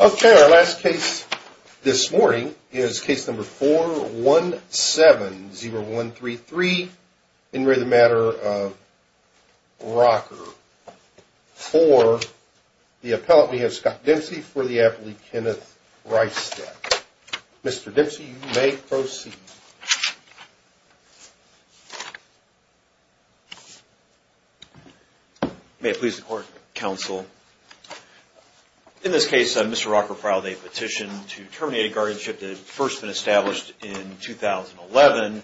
Okay, our last case this morning is case number 4 1 7 0 1 3 3 and we're the matter of rocker for The appellate we have Scott Dempsey for the aptly Kenneth right step Mr.. Dempsey you may proceed May please the court counsel In this case mr.. Rocker filed a petition to terminate a guardianship that had first been established in 2011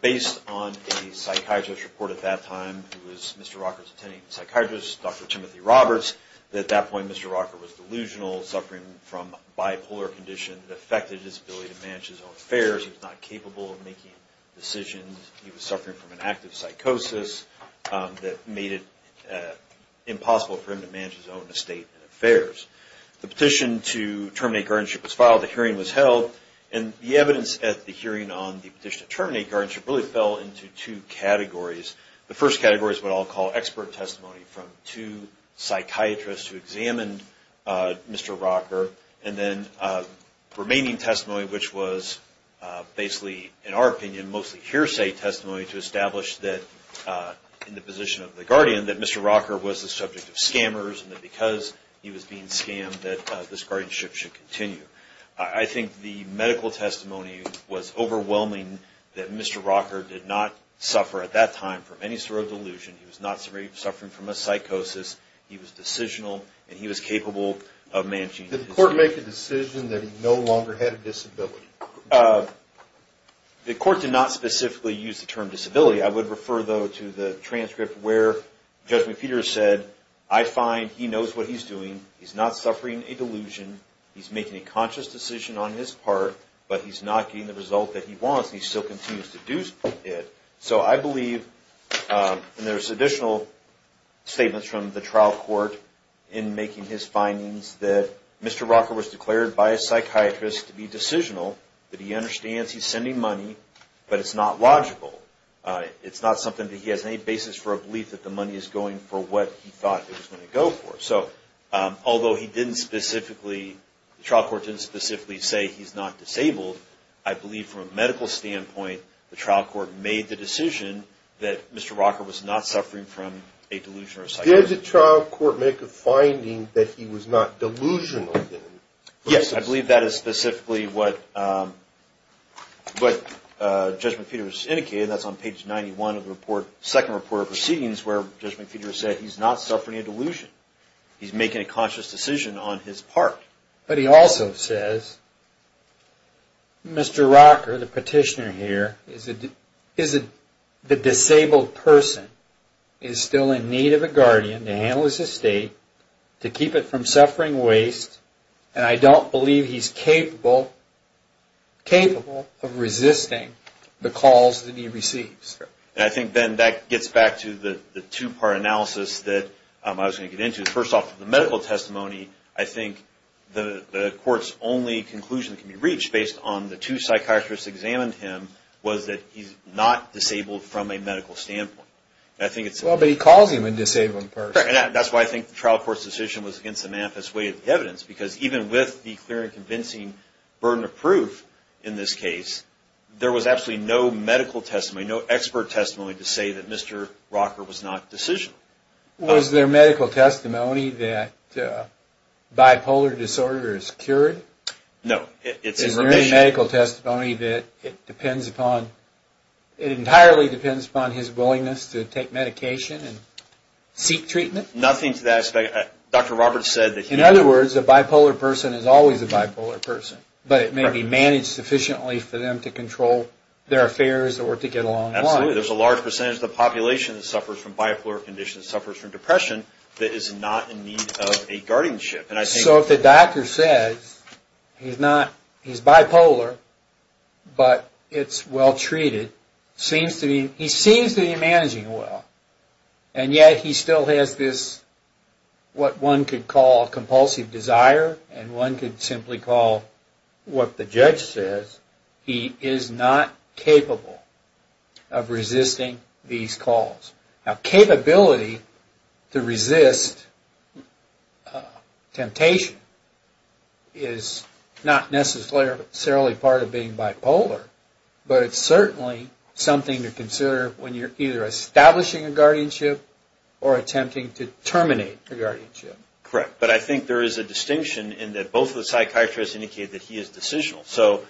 Based on a psychiatrist report at that time who was mr.. Rocker's attending psychiatrist dr.. Timothy Roberts at that point mr. Rocker was delusional suffering from bipolar condition that affected his ability to manage his own affairs He's not capable of making decisions. He was suffering from an active psychosis That made it Impossible for him to manage his own estate and affairs the petition to terminate guardianship was filed the hearing was held and The evidence at the hearing on the petition to terminate guardianship really fell into two categories The first category is what I'll call expert testimony from two psychiatrists who examined Mr.. Rocker and then remaining testimony which was basically in our opinion mostly hearsay testimony to establish that In the position of the guardian that mr. Rocker was the subject of scammers and that because he was being scammed that this guardianship should continue I think the medical testimony was overwhelming that mr. Rocker did not suffer at that time from any sort of delusion. He was not suffering from a psychosis He was decisional and he was capable of managing the court make a decision that he no longer had a disability The Court did not specifically use the term disability. I would refer though to the transcript where Judgment Peter said I find he knows what he's doing. He's not suffering a delusion He's making a conscious decision on his part, but he's not getting the result that he wants. He still continues to do it so I believe And there's additional Statements from the trial court in making his findings that mr. Rocker was declared by a psychiatrist to be decisional that he understands. He's sending money, but it's not logical It's not something that he has any basis for a belief that the money is going for what he thought it was going to go for so Although he didn't specifically The trial court didn't specifically say he's not disabled I believe from a medical standpoint the trial court made the decision that mr. Rocker was not suffering from a delusion or there's a trial court make a finding that he was not delusional Yes, I believe that is specifically what? But Judgment Peter was indicated that's on page 91 of the report second report of proceedings where judgment Peter said he's not suffering a delusion He's making a conscious decision on his part, but he also says Mr.. Rocker the petitioner here is it is it the disabled person is Still in need of a guardian to handle his estate to keep it from suffering waste, and I don't believe he's capable Capable of resisting the calls that he receives I think then that gets back to the the two-part analysis that I was going to get into first off the medical testimony I think the the court's only conclusion can be reached based on the two psychiatrists examined him was that he's not Disabled from a medical standpoint. I think it's well, but he calls him and disabled person That's why I think the trial court's decision was against the math as way of the evidence because even with the clear and convincing Burden of proof in this case there was absolutely no medical testimony no expert testimony to say that mr. Rocker was not decision was their medical testimony that Bipolar disorder is cured. No, it's a very medical testimony that it depends upon It entirely depends upon his willingness to take medication and seek treatment nothing to that effect Dr.. Roberts said that in other words a bipolar person is always a bipolar person But it may be managed sufficiently for them to control their affairs or to get along There's a large percentage of the population that suffers from bipolar conditions suffers from depression That is not in need of a guardianship, and I think so if the doctor says He's not he's bipolar But it's well treated seems to be he seems to be managing well, and yet. He still has this What one could call a compulsive desire and one could simply call? What the judge says he is not capable of? Resisting these calls now capability to resist Temptation is Not necessarily part of being bipolar but it's certainly something to consider when you're either establishing a guardianship or Attempting to terminate the guardianship correct But I think there is a distinction in that both of the psychiatrists indicated that he is decisional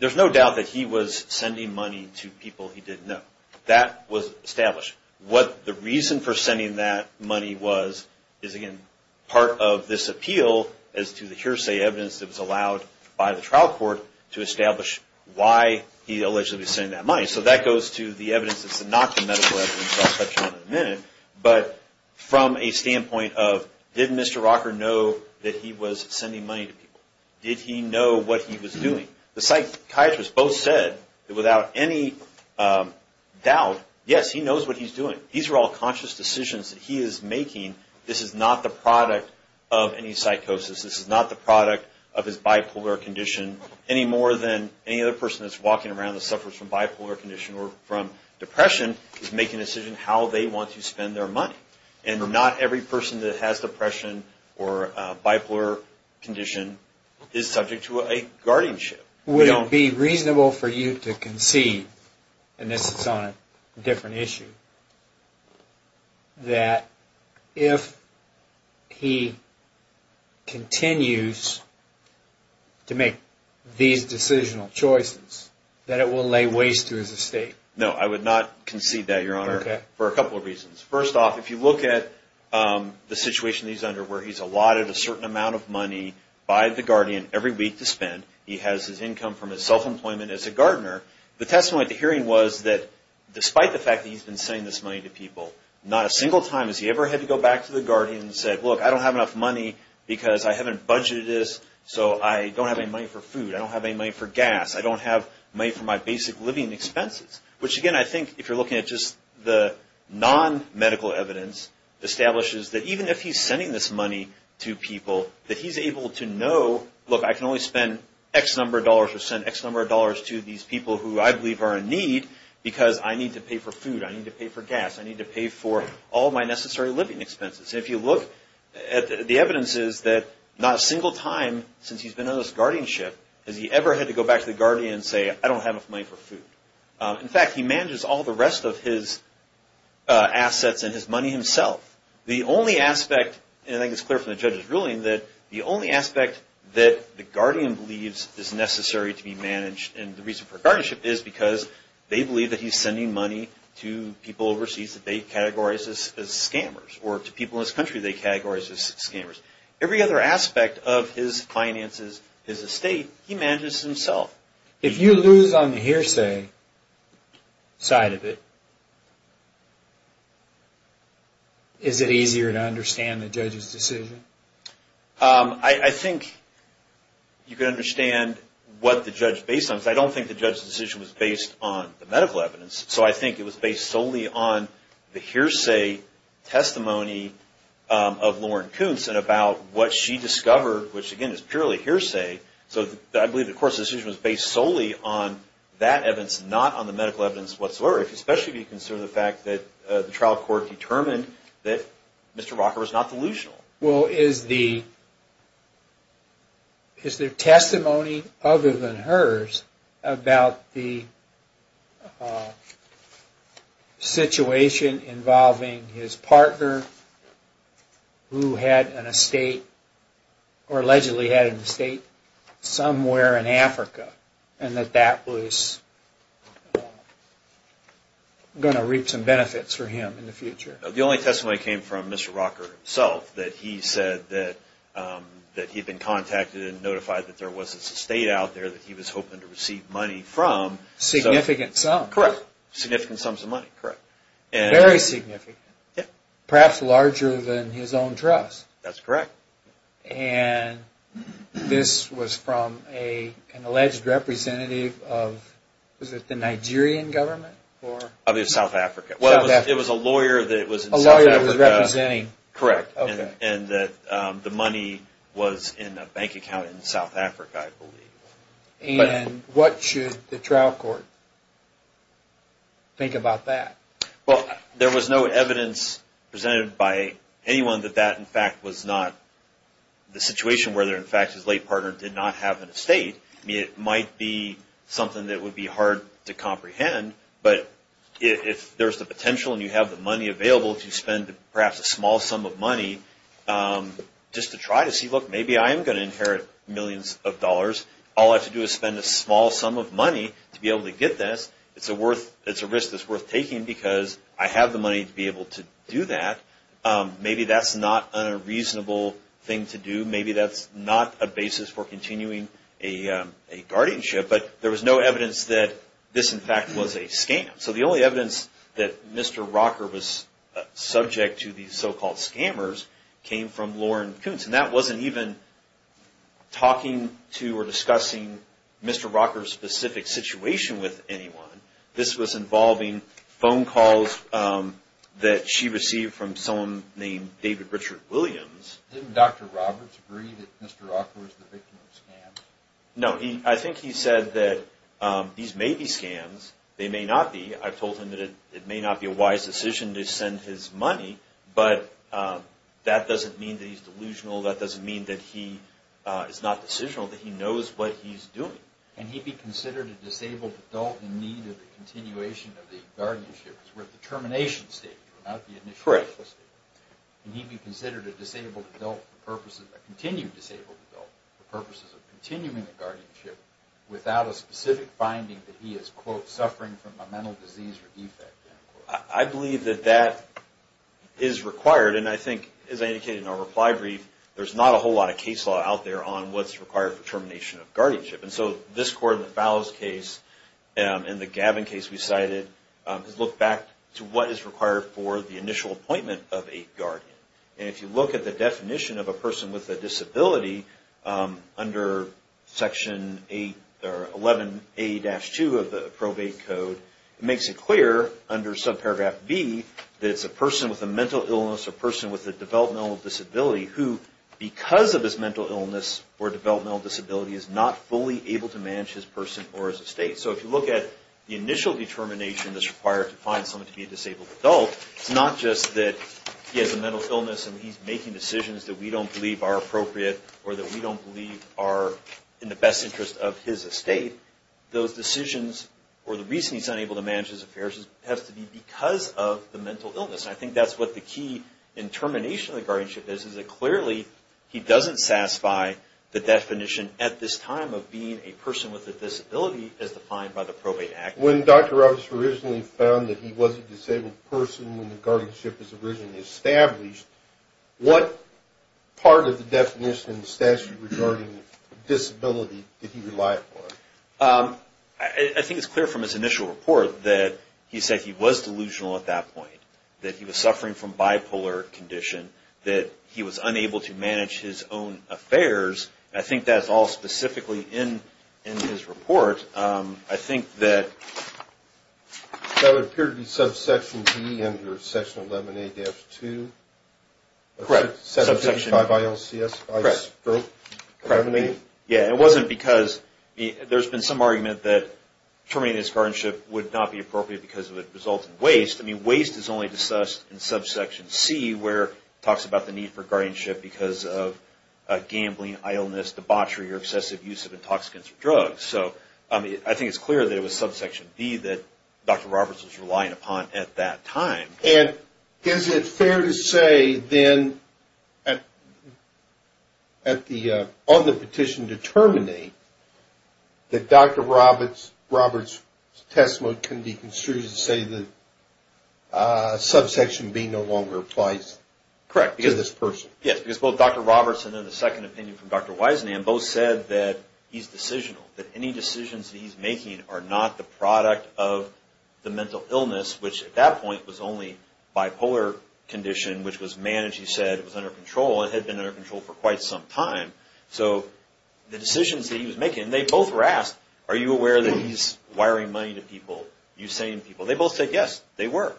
There's no doubt that he was sending money to people he didn't know that was established What the reason for sending that money was is again part of this appeal as to the hearsay evidence? It was allowed by the trial court to establish why he allegedly saying that money so that goes to the evidence It's not the medical evidence But from a standpoint of didn't mr. Know that he was sending money to people did he know what he was doing the psychiatrist both said without any Doubt yes, he knows what he's doing these are all conscious decisions that he is making this is not the product of any psychosis This is not the product of his bipolar condition Any more than any other person that's walking around the suffers from bipolar condition or from? Depression is making a decision how they want to spend their money, and they're not every person that has depression or bipolar Condition is subject to a guardianship We don't be reasonable for you to concede and this is on a different issue That if he Continues To make these decisional choices that it will lay waste to his estate No, I would not concede that your honor for a couple of reasons first off if you look at The situation he's under where he's allotted a certain amount of money by the Guardian every week to spend He has his income from his self-employment as a gardener the testimony at the hearing was that Despite the fact that he's been saying this money to people Not a single time has he ever had to go back to the Guardian and said look I don't have enough money because I haven't budgeted this so I don't have any money for food. I don't have any money for gas I don't have money for my basic living expenses, which again. I think if you're looking at just the non-medical evidence Establishes that even if he's sending this money to people that he's able to know look I can only spend X number of dollars or send X number of dollars to these people who I believe are in need Because I need to pay for food. I need to pay for gas I need to pay for all my necessary living expenses if you look at the evidence Is that not a single time? Since he's been on this guardianship has he ever had to go back to the Guardian and say I don't have enough money for food In fact he manages all the rest of his assets and his money himself the only aspect and I think it's clear from the judge's ruling that the only aspect that the Guardian believes is necessary to be managed and the reason for guardianship is because They believe that he's sending money to people overseas that they categorize this as scammers or to people in this country They categorize as scammers every other aspect of his finances is a state he manages himself If you lose on the hearsay Side of it Is it easier to understand the judge's decision I think You can understand what the judge based on so I don't think the judge's decision was based on the medical evidence So I think it was based solely on the hearsay testimony Of Lauren Coons and about what she discovered which again is purely hearsay So I believe of course decision was based solely on that evidence not on the medical evidence whatsoever Especially be considered the fact that the trial court determined that mr. Walker was not delusional. Well is the Is their testimony other than hers about the Situation involving his partner Who had an estate or allegedly had an estate? somewhere in Africa and that that was Gonna reap some benefits for him in the future the only testimony came from mr. Walker himself that he said that That he'd been contacted and notified that there was a state out there that he was hoping to receive money from Significant sound correct significant sums of money correct and very significant. Yeah, perhaps larger than his own trust. That's correct and This was from a an alleged representative of was it the Nigerian government or other South Africa? Well, it was a lawyer that it was a lawyer Representing correct and that the money was in a bank account in South Africa And what should the trial court? Think about that. Well, there was no evidence Presented by anyone that that in fact was not The situation where there in fact his late partner did not have an estate I mean it might be something that would be hard to comprehend But if there's the potential and you have the money available if you spend perhaps a small sum of money Just to try to see look maybe I am gonna inherit millions of dollars All I have to do is spend a small sum of money to be able to get this It's a worth it's a risk that's worth taking because I have the money to be able to do that maybe that's not a reasonable thing to do maybe that's not a basis for continuing a Guardianship, but there was no evidence that this in fact was a scam. So the only evidence that mr. Rocker was Subject to these so-called scammers came from Lauren Coons and that wasn't even Talking to or discussing mr. Rocker specific situation with anyone. This was involving phone calls That she received from someone named David Richard Williams Dr. Roberts agreed No, he I think he said that These may be scams. They may not be I've told him that it may not be a wise decision to send his money, but That doesn't mean these delusional that doesn't mean that he is not decisional that he knows what he's doing And he'd be considered a disabled adult in need of the continuation of the guardianship Determination state And he'd be considered a disabled adult purposes that continue disabled purposes of continuing the guardianship Without a specific finding that he is quote suffering from a mental disease or defect. I believe that that Is required and I think as I indicated in our reply brief There's not a whole lot of case law out there on what's required for termination of guardianship. And so this court in the Fowles case And the Gavin case we cited Looked back to what is required for the initial appointment of a guardian And if you look at the definition of a person with a disability under Section 8 or 11 a dash 2 of the probate code It makes it clear under subparagraph B that it's a person with a mental illness a person with a developmental disability who Because of his mental illness or developmental disability is not fully able to manage his person or as a state So if you look at the initial determination that's required to find someone to be a disabled adult It's not just that he has a mental illness and he's making decisions that we don't believe are appropriate or that we don't believe are In the best interest of his estate those decisions or the reason he's unable to manage his affairs It has to be because of the mental illness. I think that's what the key in He doesn't satisfy the definition at this time of being a person with a disability as defined by the probate act when dr Roberts originally found that he was a disabled person when the guardianship is originally established what part of the definition statute regarding disability I Think it's clear from his initial report that he said he was delusional at that point that he was suffering from bipolar Condition that he was unable to manage his own affairs. I think that's all specifically in in his report I think that That would appear to be subsection G and your section 11 a-2 correct subsection by by LCS Yeah, it wasn't because There's been some argument that Terminating his guardianship would not be appropriate because of it results in waste I mean waste is only discussed in subsection C. Where talks about the need for guardianship because of Gambling I illness debauchery or obsessive use of intoxicants or drugs, so I mean I think it's clear that it was subsection B That dr. Roberts was relying upon at that time and is it fair to say then at? At the other petition to terminate that dr. Roberts Roberts test mode can be construed to say that Subsection B. No longer applies Correct because this person yes, it's both dr. Roberts, and then the second opinion from dr. Wiseman both said that he's decisional that any decisions. He's making are not the product of the mental illness which at that point was only Bipolar condition which was managed he said it was under control it had been under control for quite some time So the decisions that he was making they both were asked are you aware that he's wiring money to people you saying people? They both said yes, they were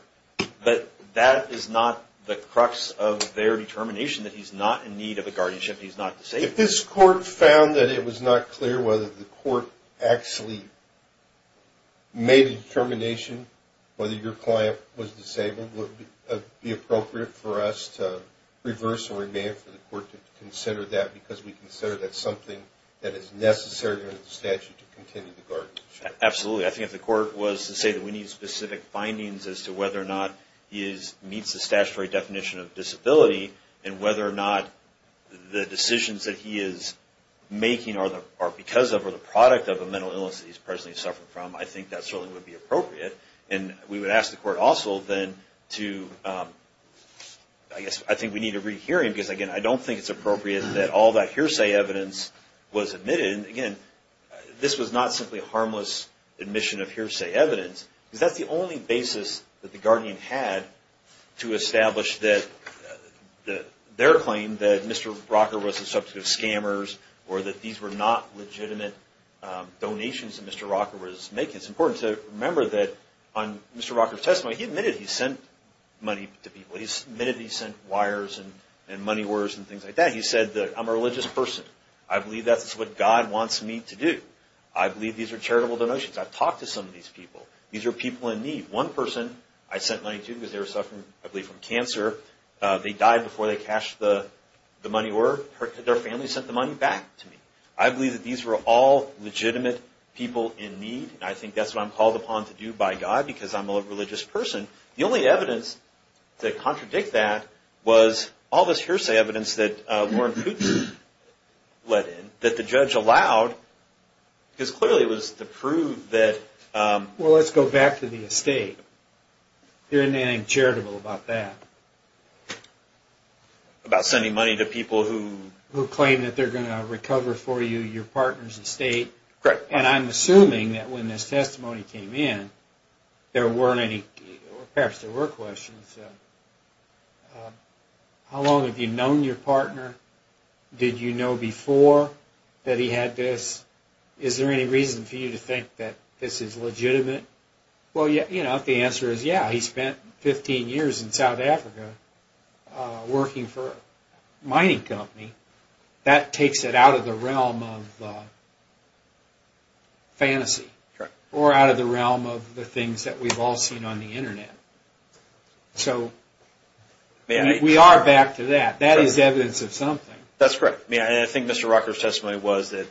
But that is not the crux of their determination that he's not in need of a guardianship He's not to say if this court found that it was not clear whether the court actually Made a determination whether your client was disabled would be appropriate for us to Reverse or remain for the court to consider that because we consider that something that is necessary Statue to continue the garden absolutely I think if the court was to say that we need specific findings as to whether or not he is meets the statutory definition of disability and whether or not the decisions that he is Making are the are because of or the product of a mental illness that he's presently suffering from I think that certainly would be appropriate and we would ask the court also then to I Guess I think we need to rehear him because again. I don't think it's appropriate that all that hearsay evidence was admitted again This was not simply harmless Admission of hearsay evidence is that's the only basis that the Guardian had to establish that The their claim that mr. Rocker was a subject of scammers or that these were not legitimate Donations and mr. Rocker was making it's important to remember that on mr. Rocker testimony. He admitted. He sent money to people He's admitted. He sent wires and and money words and things like that. He said that I'm a religious person I believe that's what God wants me to do. I believe these are charitable donations I've talked to some of these people these are people in need one person I sent money to because they were suffering I believe from cancer They died before they cashed the the money or hurt their family sent the money back to me I believe that these were all Legitimate people in need and I think that's what I'm called upon to do by God because I'm a religious person the only evidence that contradict that was all this hearsay evidence that Warren Let in that the judge allowed Because clearly it was to prove that Well, let's go back to the estate There anything charitable about that About sending money to people who who claim that they're gonna recover for you your partner's estate Correct, and I'm assuming that when this testimony came in There weren't any perhaps there were questions How Long have you known your partner Did you know before that he had this is there any reason for you to think that this is legitimate? Well, yeah, you know if the answer is yeah, he spent 15 years in South Africa working for a mining company that takes it out of the realm of Fantasy or out of the realm of the things that we've all seen on the internet So We are back to that that is evidence of something. That's correct. Yeah, I think mr. Rocker's testimony was that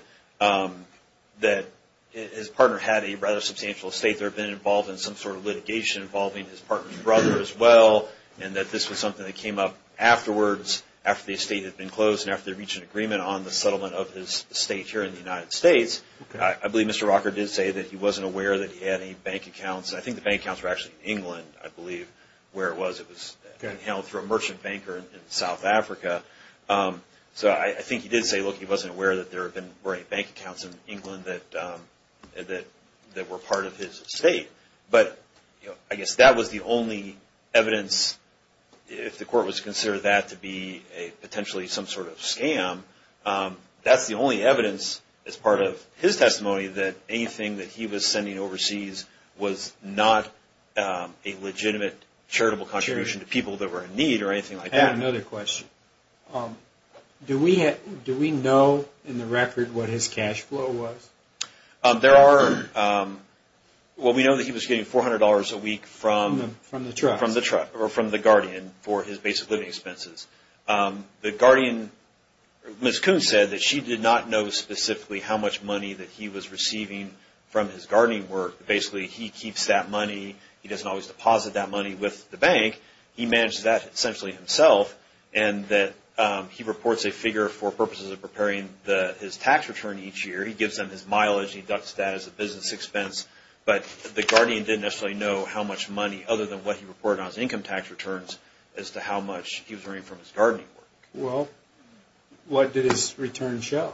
That his partner had a rather substantial state There have been involved in some sort of litigation involving his partner's brother as well And that this was something that came up Afterwards after the estate had been closed and after they reach an agreement on the settlement of his state here in the United States I believe mr. Rocker did say that he wasn't aware that he had any bank accounts I think the bank accounts were actually in England. I believe where it was. It was held through a merchant banker in South Africa so I think he did say look he wasn't aware that there have been great bank accounts in England that That that were part of his state, but you know, I guess that was the only evidence If the court was considered that to be a potentially some sort of scam That's the only evidence as part of his testimony that anything that he was sending overseas was not A legitimate charitable contribution to people that were in need or anything like that another question Do we have do we know in the record what his cash flow was? there are Well, we know that he was getting $400 a week from from the truck from the truck or from the Guardian for his basic living expenses the Guardian Miss Coon said that she did not know specifically how much money that he was receiving from his gardening work Basically, he keeps that money. He doesn't always deposit that money with the bank He managed that essentially himself and that he reports a figure for purposes of preparing the his tax return each year He gives them his mileage. He ducks that as a business expense But the Guardian didn't actually know how much money other than what he reported on his income tax returns As to how much he was earning from his gardening work. Well What did his return show?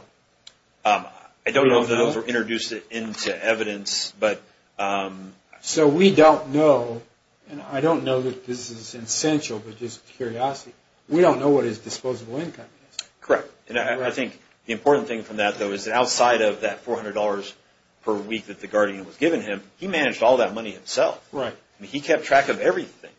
I don't know those were introduced it into evidence, but So we don't know and I don't know that this is essential, but just curiosity. We don't know what his disposable income Correct, and I think the important thing from that though is that outside of that $400 per week that the Guardian was given him He managed all that money himself, right? He kept track of everything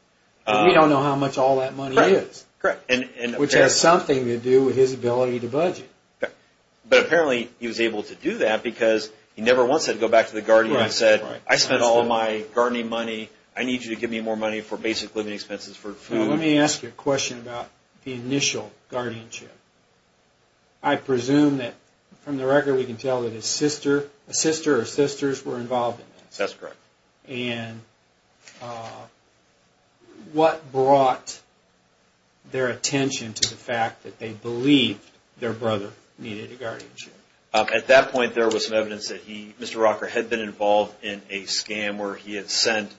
We don't know how much all that money is correct and which has something to do with his ability to budget But apparently he was able to do that because he never wants it to go back to the Guardian I said I spent all my gardening money. I need you to give me more money for basic living expenses for food Let me ask you a question about the initial guardianship I Presume that from the record we can tell that his sister a sister or sisters were involved in this. That's correct and What brought Their attention to the fact that they believed their brother needed a guardianship At that point there was some evidence that he mr. Rocker had been involved in a scam where he had sent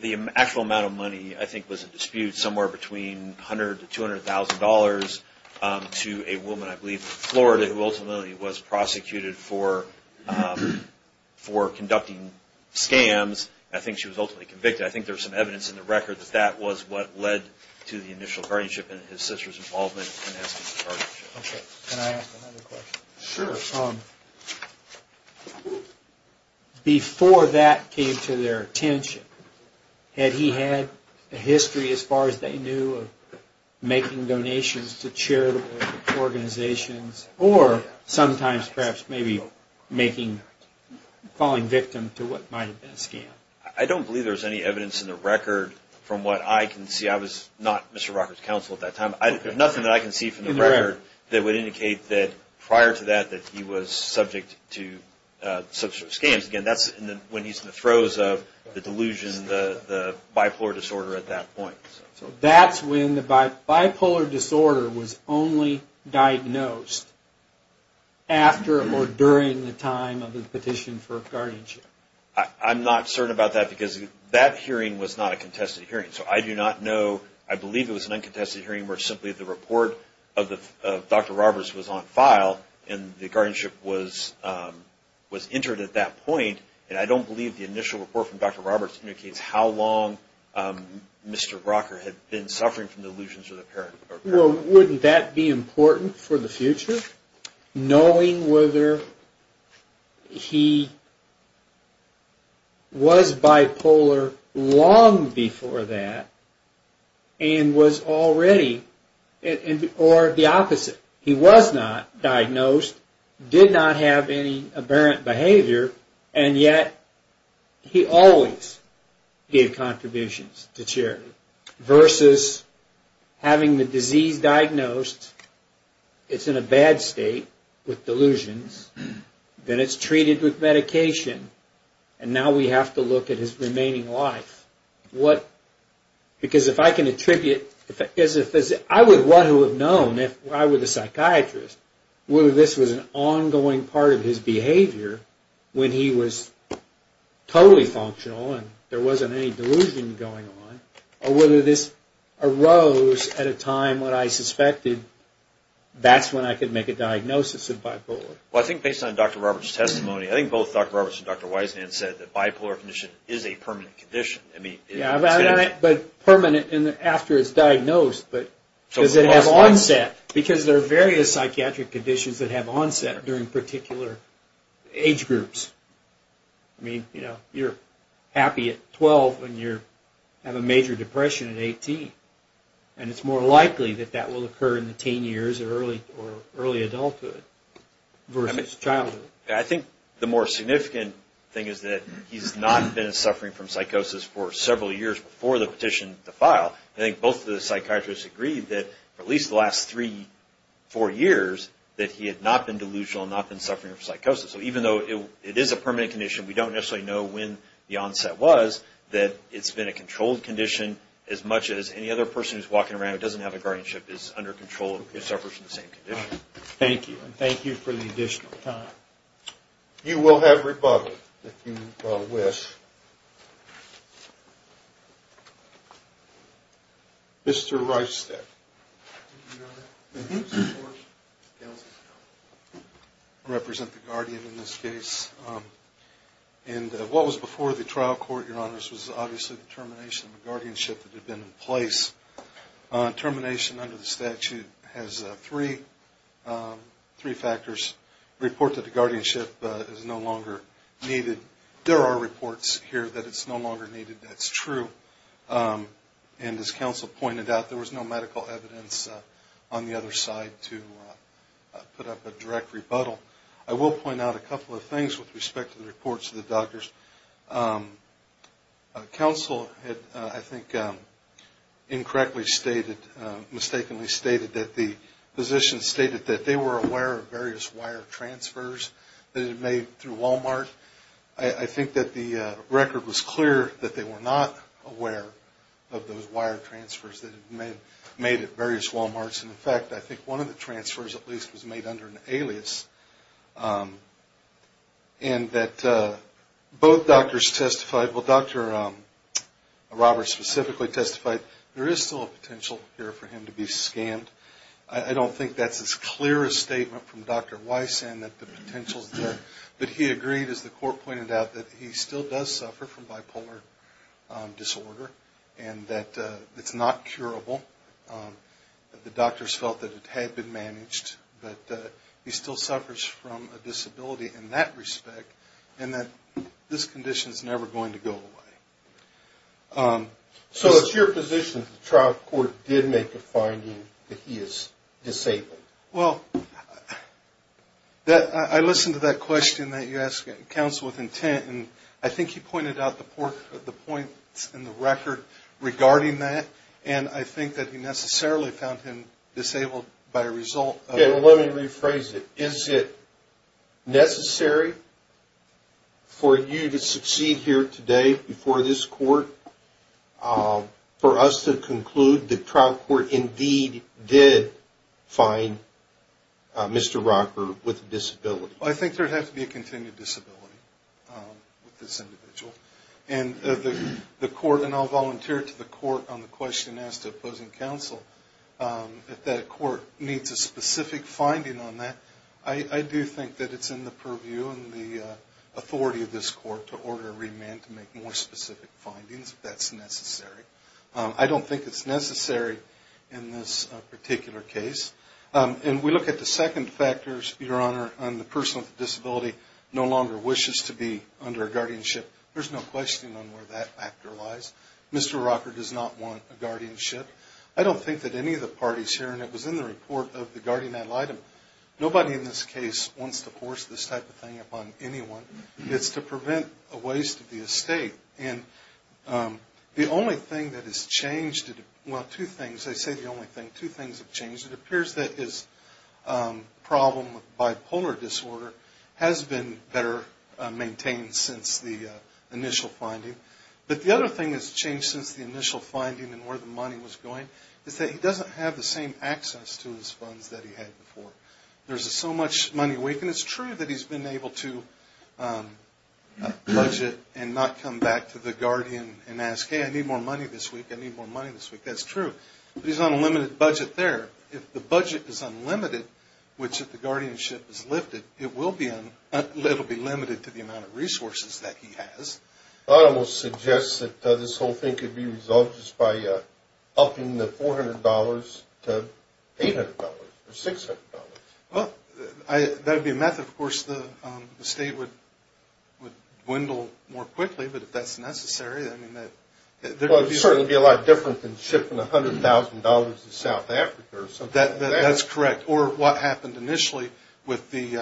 The actual amount of money. I think was a dispute somewhere between hundred to two hundred thousand dollars to a woman I believe Florida who ultimately was prosecuted for Conducting scams, I think she was ultimately convicted I think there's some evidence in the record that that was what led to the initial guardianship and his sister's involvement Before that came to their attention Had he had a history as far as they knew of making donations to charitable Organizations or sometimes perhaps maybe making Falling victim to what might have been a scam. I don't believe there's any evidence in the record from what I can see I was not mr. Rocker's counsel at that time I have nothing that I can see from the record that would indicate that prior to that that he was subject to Such scams again. That's when he's in the throes of the delusion the Bipolar disorder was only diagnosed After or during the time of the petition for guardianship I'm not certain about that because that hearing was not a contested hearing so I do not know I believe it was an uncontested hearing where simply the report of the dr. Roberts was on file and the guardianship was Was entered at that point and I don't believe the initial report from dr. Roberts indicates how long? Mr. Rocker had been suffering from the illusions of the parent. Well, wouldn't that be important for the future? knowing whether he Was bipolar long before that and Was already it or the opposite? He was not diagnosed Did not have any apparent behavior and yet he always Gave contributions to charity versus Having the disease diagnosed It's in a bad state with delusions Then it's treated with medication and now we have to look at his remaining life what Because if I can attribute if it is a physician I would want to have known if I were the psychiatrist whether this was an ongoing part of his behavior when he was Totally functional and there wasn't any delusion going on or whether this arose at a time when I suspected That's when I could make a diagnosis of bipolar. Well, I think based on dr. Roberts testimony I think both dr. Roberts and dr. Wiseman said that bipolar condition is a permanent condition I mean, yeah, but permanent and after it's diagnosed But does it have onset because there are various psychiatric conditions that have onset during particular age groups I mean, you know, you're happy at 12 and you're have a major depression at 18 And it's more likely that that will occur in the teen years or early or early adulthood versus childhood I think the more significant thing is that he's not been suffering from psychosis for several years before the petition to file I think both of the psychiatrists agreed that at least the last three Four years that he had not been delusional not been suffering from psychosis. So even though it is a permanent condition We don't necessarily know when the onset was that it's been a controlled condition as much as any other person who's walking around It doesn't have a guardianship is under control. It suffers from the same condition. Thank you. Thank you for the additional time You will have rebuttal with Mr. Rice that Represent the Guardian in this case And what was before the trial court your honors was obviously the termination of the guardianship that had been in place Termination under the statute has three Three factors report that the guardianship is no longer needed. There are reports here that it's no longer needed. That's true and as counsel pointed out there was no medical evidence on the other side to Put up a direct rebuttal. I will point out a couple of things with respect to the reports of the doctors Counsel had I think incorrectly stated Mistakenly stated that the physician stated that they were aware of various wire transfers that it made through Walmart I think that the record was clear that they were not aware of those wire transfers that it made Made at various Walmarts. And in fact, I think one of the transfers at least was made under an alias and that both doctors testified well, dr. Roberts specifically testified there is still a potential here for him to be scammed I don't think that's as clear a statement from dr. Weiss and that the potentials there, but he agreed as the court pointed out that he still does suffer from bipolar Disorder and that it's not curable the doctors felt that it had been managed that he still suffers from a disability in that respect and that This condition is never going to go away So it's your position the trial court did make a finding that he is disabled well That I listened to that question that you asked counsel with intent and I think he pointed out the port of the points in the record Regarding that and I think that he necessarily found him disabled by a result. Let me rephrase it. Is it necessary For you to succeed here today before this court For us to conclude the trial court indeed did find Mr. Rocker with disability. I think there'd have to be a continued disability with this individual and The court and I'll volunteer to the court on the question as to opposing counsel If that court needs a specific finding on that. I do think that it's in the purview and the Authority of this court to order a remand to make more specific findings. That's necessary I don't think it's necessary in this particular case And we look at the second factors your honor on the person with disability no longer wishes to be under a guardianship There's no question on where that actor lies. Mr. Rocker does not want a guardianship I don't think that any of the parties here and it was in the report of the guardian ad litem Nobody in this case wants to force this type of thing upon anyone. It's to prevent a waste of the estate and The only thing that has changed Well two things they say the only thing two things have changed it appears that his Problem with bipolar disorder has been better maintained since the Initial finding but the other thing has changed since the initial finding and where the money was going Is that he doesn't have the same access to his funds that he had before There's so much money awakened. It's true that he's been able to Budget and not come back to the Guardian and ask hey, I need more money this week I need more money this week. That's true He's on a limited budget there if the budget is unlimited Which if the guardianship is lifted it will be an it'll be limited to the amount of resources that he has Almost suggests that this whole thing could be resolved just by upping the $400 to $800 or $600. Well, I that'd be a method. Of course the state would Would dwindle more quickly, but if that's necessary There's certainly be a lot different than shipping a hundred thousand dollars in South Africa So that that's correct or what happened initially with the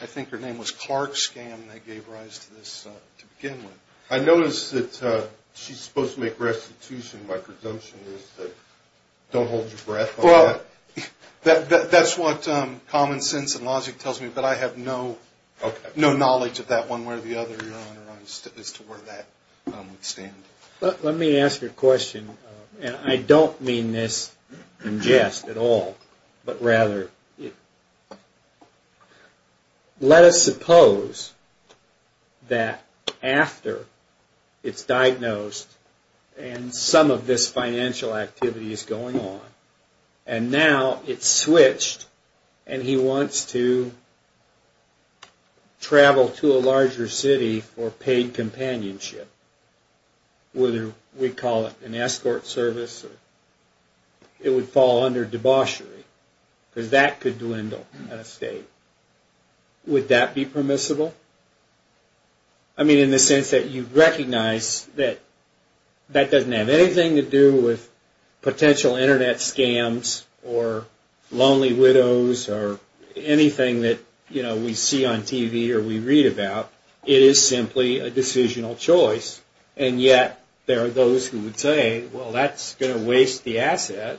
I think her name was Clark scam They gave rise to this to begin with I noticed that she's supposed to make restitution my presumption Don't hold your breath. Well That that's what common sense and logic tells me, but I have no No knowledge of that one where the other Is to where that Let me ask you a question and I don't mean this in jest at all, but rather Let us suppose that after it's diagnosed and some of this financial activity is going on and now it's switched and he wants to Travel to a larger city or paid companionship Whether we call it an escort service It would fall under debauchery because that could dwindle in a state Would that be permissible? I? mean in the sense that you recognize that that doesn't have anything to do with potential internet scams or Lonely widows or Anything that you know, we see on TV or we read about it is simply a decisional choice And yet there are those who would say well, that's gonna waste the asset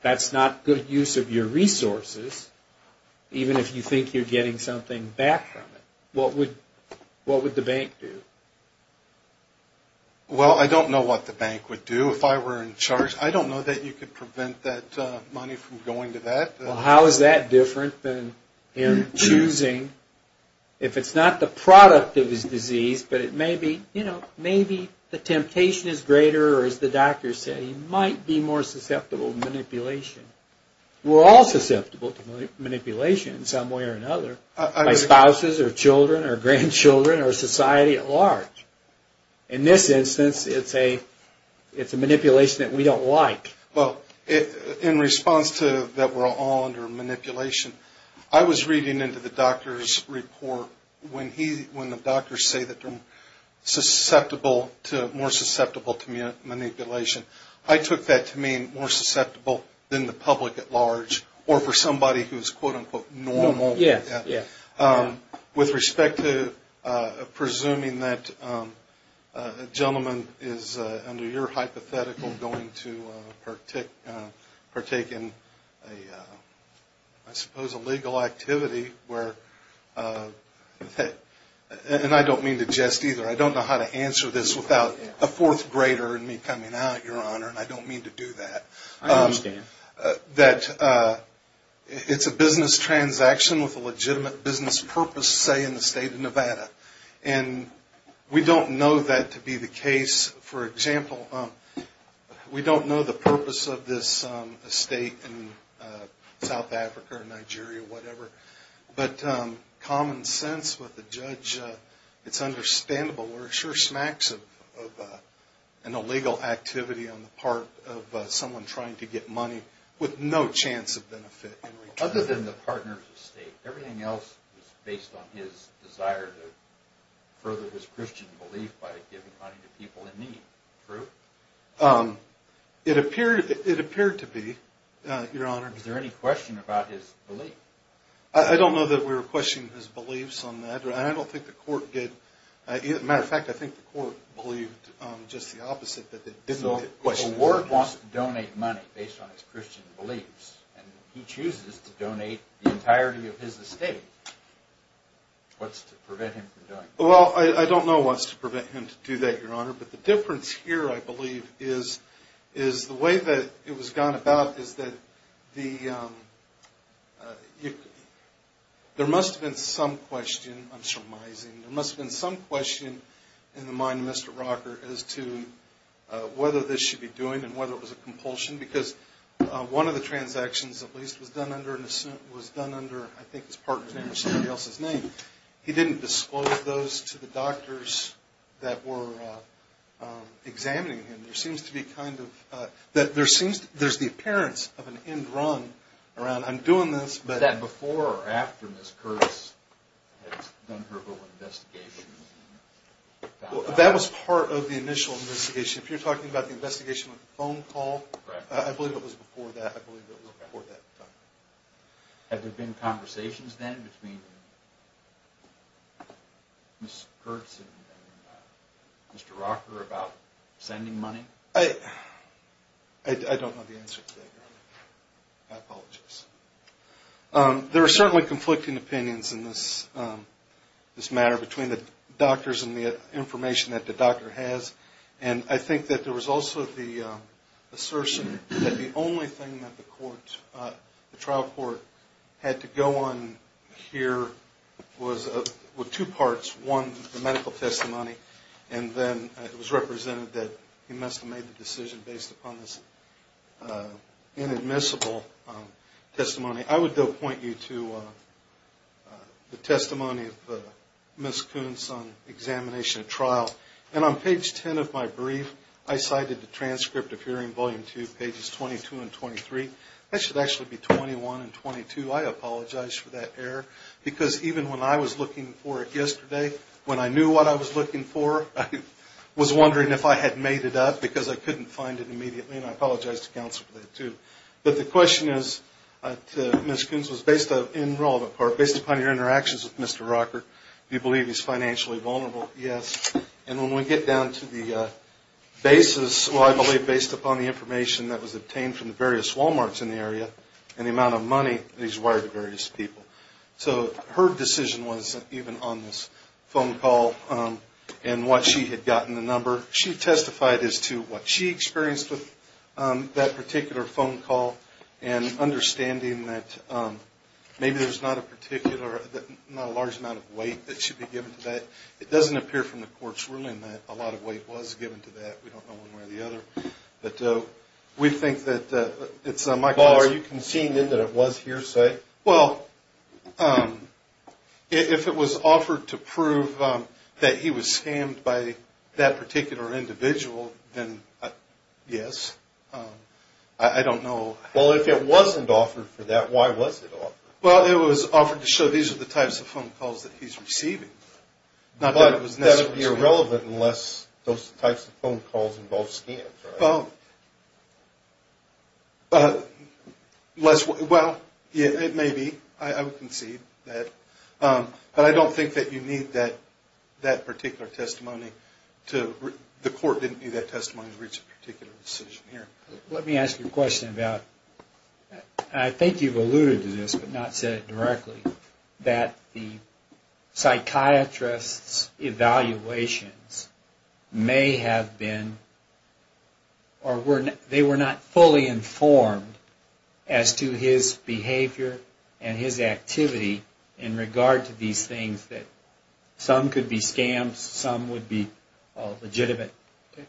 That's not good use of your resources Even if you think you're getting something back from it, what would what would the bank do? Well, I don't know what the bank would do if I were in charge I don't know that you could prevent that money from going to that. Well, how is that different than in choosing? If it's not the product of his disease But it may be you know, maybe the temptation is greater or as the doctor said he might be more susceptible to manipulation We're all susceptible to manipulation in some way or another Spouses or children or grandchildren or society at large in this instance, it's a It's a manipulation that we don't like well in response to that. We're all under manipulation I was reading into the doctor's report when he when the doctors say that susceptible to more susceptible to Manipulation I took that to mean more susceptible than the public at large or for somebody who's quote-unquote normal Yeah, yeah with respect to presuming that Gentleman is under your hypothetical going to partake partake in a suppose a legal activity where That And I don't mean to jest either I don't know how to answer this without a fourth grader and me coming out your honor, and I don't mean to do that That It's a business transaction with a legitimate business purpose say in the state of Nevada and We don't know that to be the case for example We don't know the purpose of this estate in South Africa or Nigeria or whatever but common sense with the judge it's understandable or sure smacks of An illegal activity on the part of someone trying to get money with no chance of benefit other than the partners of state everything else is based on his desire to Further his Christian belief by giving money to people in need true It appeared it appeared to be your honor. Is there any question about his belief? I don't know that we were questioning his beliefs on that. I don't think the court did it matter of fact I think the court believed just the opposite that they didn't know what work wants to donate money based on his Christian beliefs and He chooses to donate the entirety of his estate What's to prevent him from doing well? I don't know what's to prevent him to do that your honor, but the difference here I believe is is the way that it was gone about is that the You There must have been some question There must have been some question in the mind of mr. Rocker as to whether this should be doing and whether it was a compulsion because One of the transactions at least was done under an assent was done under. I think it's part of somebody else's name He didn't disclose those to the doctors that were Examining him there seems to be kind of that there seems there's the appearance of an end run around I'm doing this but that before or after this curse Investigation That was part of the initial investigation if you're talking about the investigation with the phone call, I believe it was before that Have there been conversations then between Mr. Rocker about sending money. Hey, I don't know the answer There are certainly conflicting opinions in this this matter between the doctors and the information that the doctor has and I think that there was also the Assertion that the only thing that the court the trial court had to go on Here was a with two parts one the medical testimony and then it was represented that He must have made the decision based upon this Inadmissible testimony, I would don't point you to The testimony of Miss Coons on Examination of trial and on page 10 of my brief I cited the transcript of hearing volume 2 pages 22 and 23. I should actually be 21 and 22 I apologize for that error because even when I was looking for it yesterday when I knew what I was looking for I was wondering if I had made it up because I couldn't find it immediately and I apologized to counsel for that, too But the question is Miss Coons was based on enrollment part based upon your interactions with. Mr. Rocker. Do you believe he's financially vulnerable? yes, and when we get down to the Basis, well, I believe based upon the information that was obtained from the various Walmarts in the area and the amount of money He's wired to various people. So her decision wasn't even on this phone call And what she had gotten the number she testified as to what she experienced with that particular phone call and understanding that Maybe there's not a particular Not a large amount of weight that should be given to that It doesn't appear from the court's ruling that a lot of weight was given to that We don't know one way or the other but we think that it's on my car You can seen in that it was hearsay. Well If it was offered to prove that he was scammed by that particular individual then Yes, I Don't know. Well, if it wasn't offered for that, why was it off? Well, it was offered to show these are the types of phone calls that he's receiving Not that it was irrelevant unless those types of phone calls involve scams. Oh Less well, yeah, it may be I would concede that But I don't think that you need that that particular testimony to the court didn't need that testimony to reach a particular decision here let me ask you a question about I think you've alluded to this but not said directly that the Psychiatrists evaluations may have been or Were they were not fully informed as to his behavior and his activity in regard to these things that Some could be scams. Some would be legitimate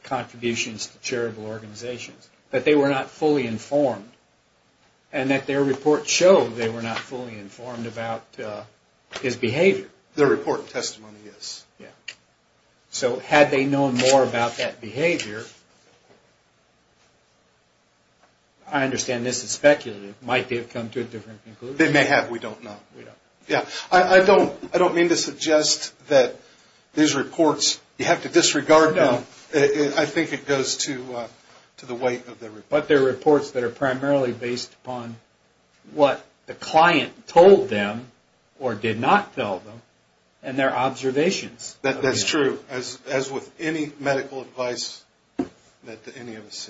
contributions to charitable organizations, but they were not fully informed and That their report showed they were not fully informed about His behavior the report testimony. Yes. Yeah So had they known more about that behavior. I Understand this is speculative might they have come to a different conclusion. They may have we don't know Yeah, I don't I don't mean to suggest that These reports you have to disregard. No, I think it goes to To the weight of their but their reports that are primarily based upon What the client told them or did not tell them and their observations that that's true as as with any medical advice that any of us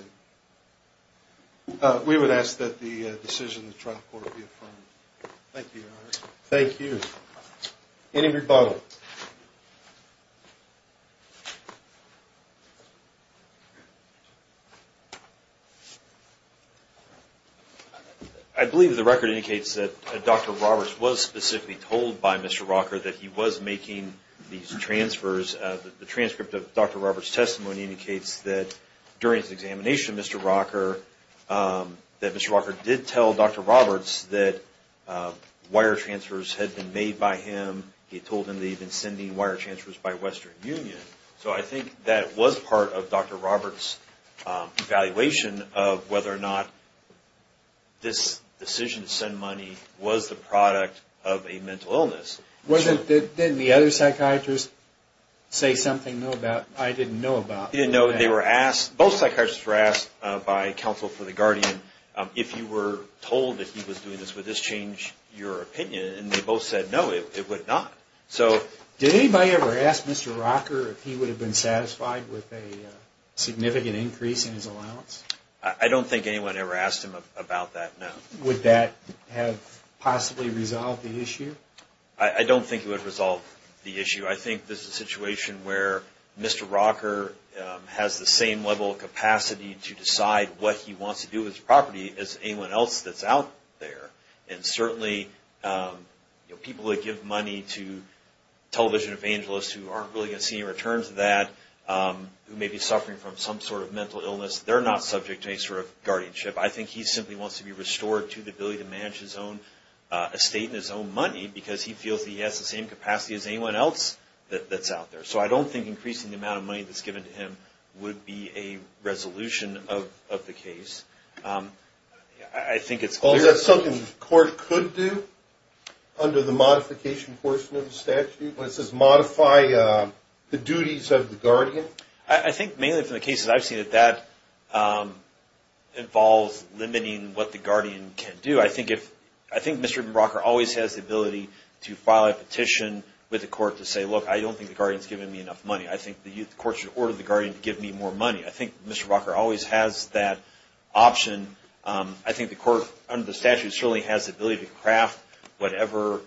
We would ask that the decision Thank you any rebuttal I Believe the record indicates that dr. Roberts was specifically told by mr. Rocker that he was making these transfers the transcript of dr. Roberts testimony indicates that during his examination. Mr. Rocker That mr. Walker did tell dr. Roberts that Wire transfers had been made by him. He told him they've been sending wire transfers by Western Union So I think that was part of dr. Roberts evaluation of whether or not This decision to send money was the product of a mental illness wasn't that then the other psychiatrists Say something know about I didn't know about you know Both psychiatrists were asked by counsel for the Guardian if you were told that he was doing this with this change your opinion And they both said no it would not so did anybody ever asked mr. Rocker if he would have been satisfied with a Significant increase in his allowance. I don't think anyone ever asked him about that. No with that have Possibly resolved the issue. I don't think it would resolve the issue. I think this is a situation where mr. Rocker Has the same level of capacity to decide what he wants to do with his property as anyone else that's out there and certainly people that give money to Television evangelists who aren't really gonna see a return to that Who may be suffering from some sort of mental illness? They're not subject to a sort of guardianship I think he simply wants to be restored to the ability to manage his own Estate in his own money because he feels he has the same capacity as anyone else that that's out there So I don't think increasing the amount of money that's given to him would be a resolution of the case I Think it's all that's something the court could do Under the modification portion of the statute when it says modify The duties of the Guardian I think mainly from the cases. I've seen that that Involves limiting what the Guardian can do I think if I think mr. Rocker always has the ability to file a petition With the court to say look I don't think the Guardian's giving me enough money I think the courts should order the Guardian to give me more money. I think mr. Rocker always has that Option I think the court under the statute surely has the ability to craft whatever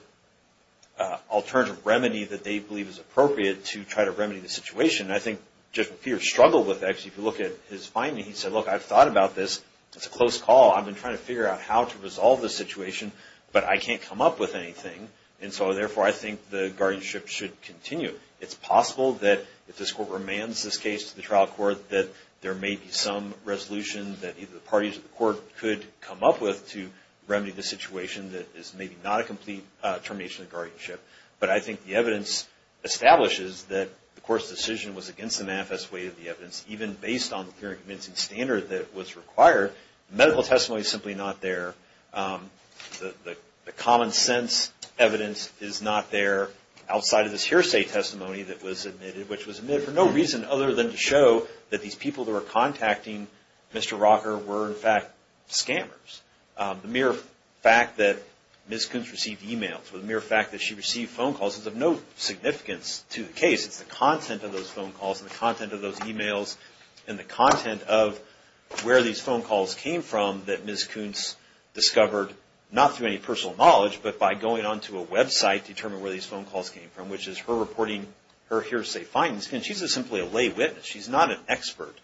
Alternative remedy that they believe is appropriate to try to remedy the situation I think just fear struggle with X if you look at his finding. He said look I've thought about this. It's a close call I've been trying to figure out how to resolve this situation, but I can't come up with anything and so therefore I think the guardianship should continue It's possible that if this court remands this case to the trial court that there may be some Resolution that either the parties of the court could come up with to remedy the situation that is maybe not a complete termination of guardianship, but I think the evidence Establishes that the course decision was against the manifest way of the evidence even based on the current convincing standard that was required Medical testimony is simply not there The the common-sense Evidence is not there Outside of this hearsay testimony that was admitted which was admitted for no reason other than to show that these people that were contacting Mr. Rocker were in fact scammers The mere fact that miss Coons received emails with a mere fact that she received phone calls is of no significance to the case it's the content of those phone calls and the content of those emails and the content of Where these phone calls came from that miss Coons Discovered not through any personal knowledge, but by going on to a website determine where these phone calls came from Which is her reporting her hearsay findings and she's a simply a lay witness She's not an expert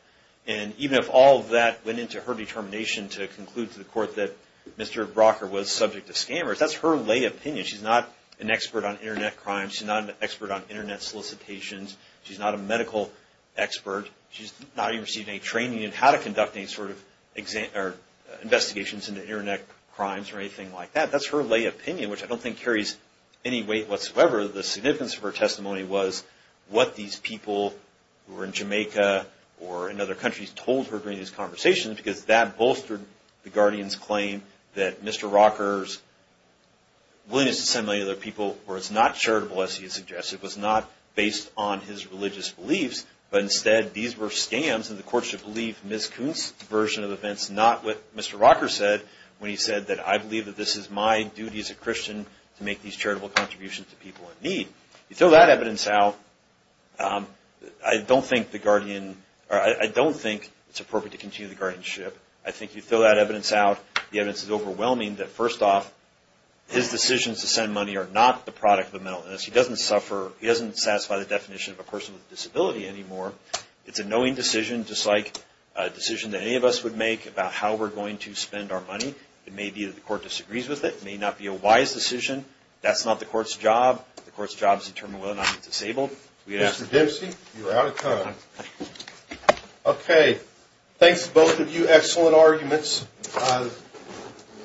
and even if all that went into her determination to conclude to the court that mr. Rocker was subject to scammers. That's her lay opinion. She's not an expert on internet crimes. She's not an expert on internet solicitations She's not a medical Expert she's not even received any training and how to conduct any sort of exam or Investigations in the internet crimes or anything like that. That's her lay opinion, which I don't think carries any weight whatsoever The significance of her testimony was what these people who were in Jamaica or in other countries told her during these conversations Because that bolstered the Guardian's claim that mr. Rocker's Assembly other people or it's not charitable as he suggested was not based on his religious beliefs But instead these were scams and the courts should believe miss Coons version of events Not what mr. Rocker said when he said that I believe that this is my duty as a Christian to make these charitable contributions to people in need You throw that evidence out I don't think the Guardian I don't think it's appropriate to continue the guardianship I think you throw that evidence out. The evidence is overwhelming that first off His decisions to send money are not the product of the mental illness He doesn't suffer he doesn't satisfy the definition of a person with a disability anymore It's a knowing decision just like a decision that any of us would make about how we're going to spend our money It may be that the court disagrees with it may not be a wise decision That's not the court's job. The court's job is to determine whether or not it's disabled. Mr. Dempsey, you're out of time. Okay, thanks both of you excellent arguments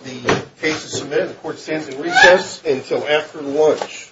The case is submitted the court stands in recess until after lunch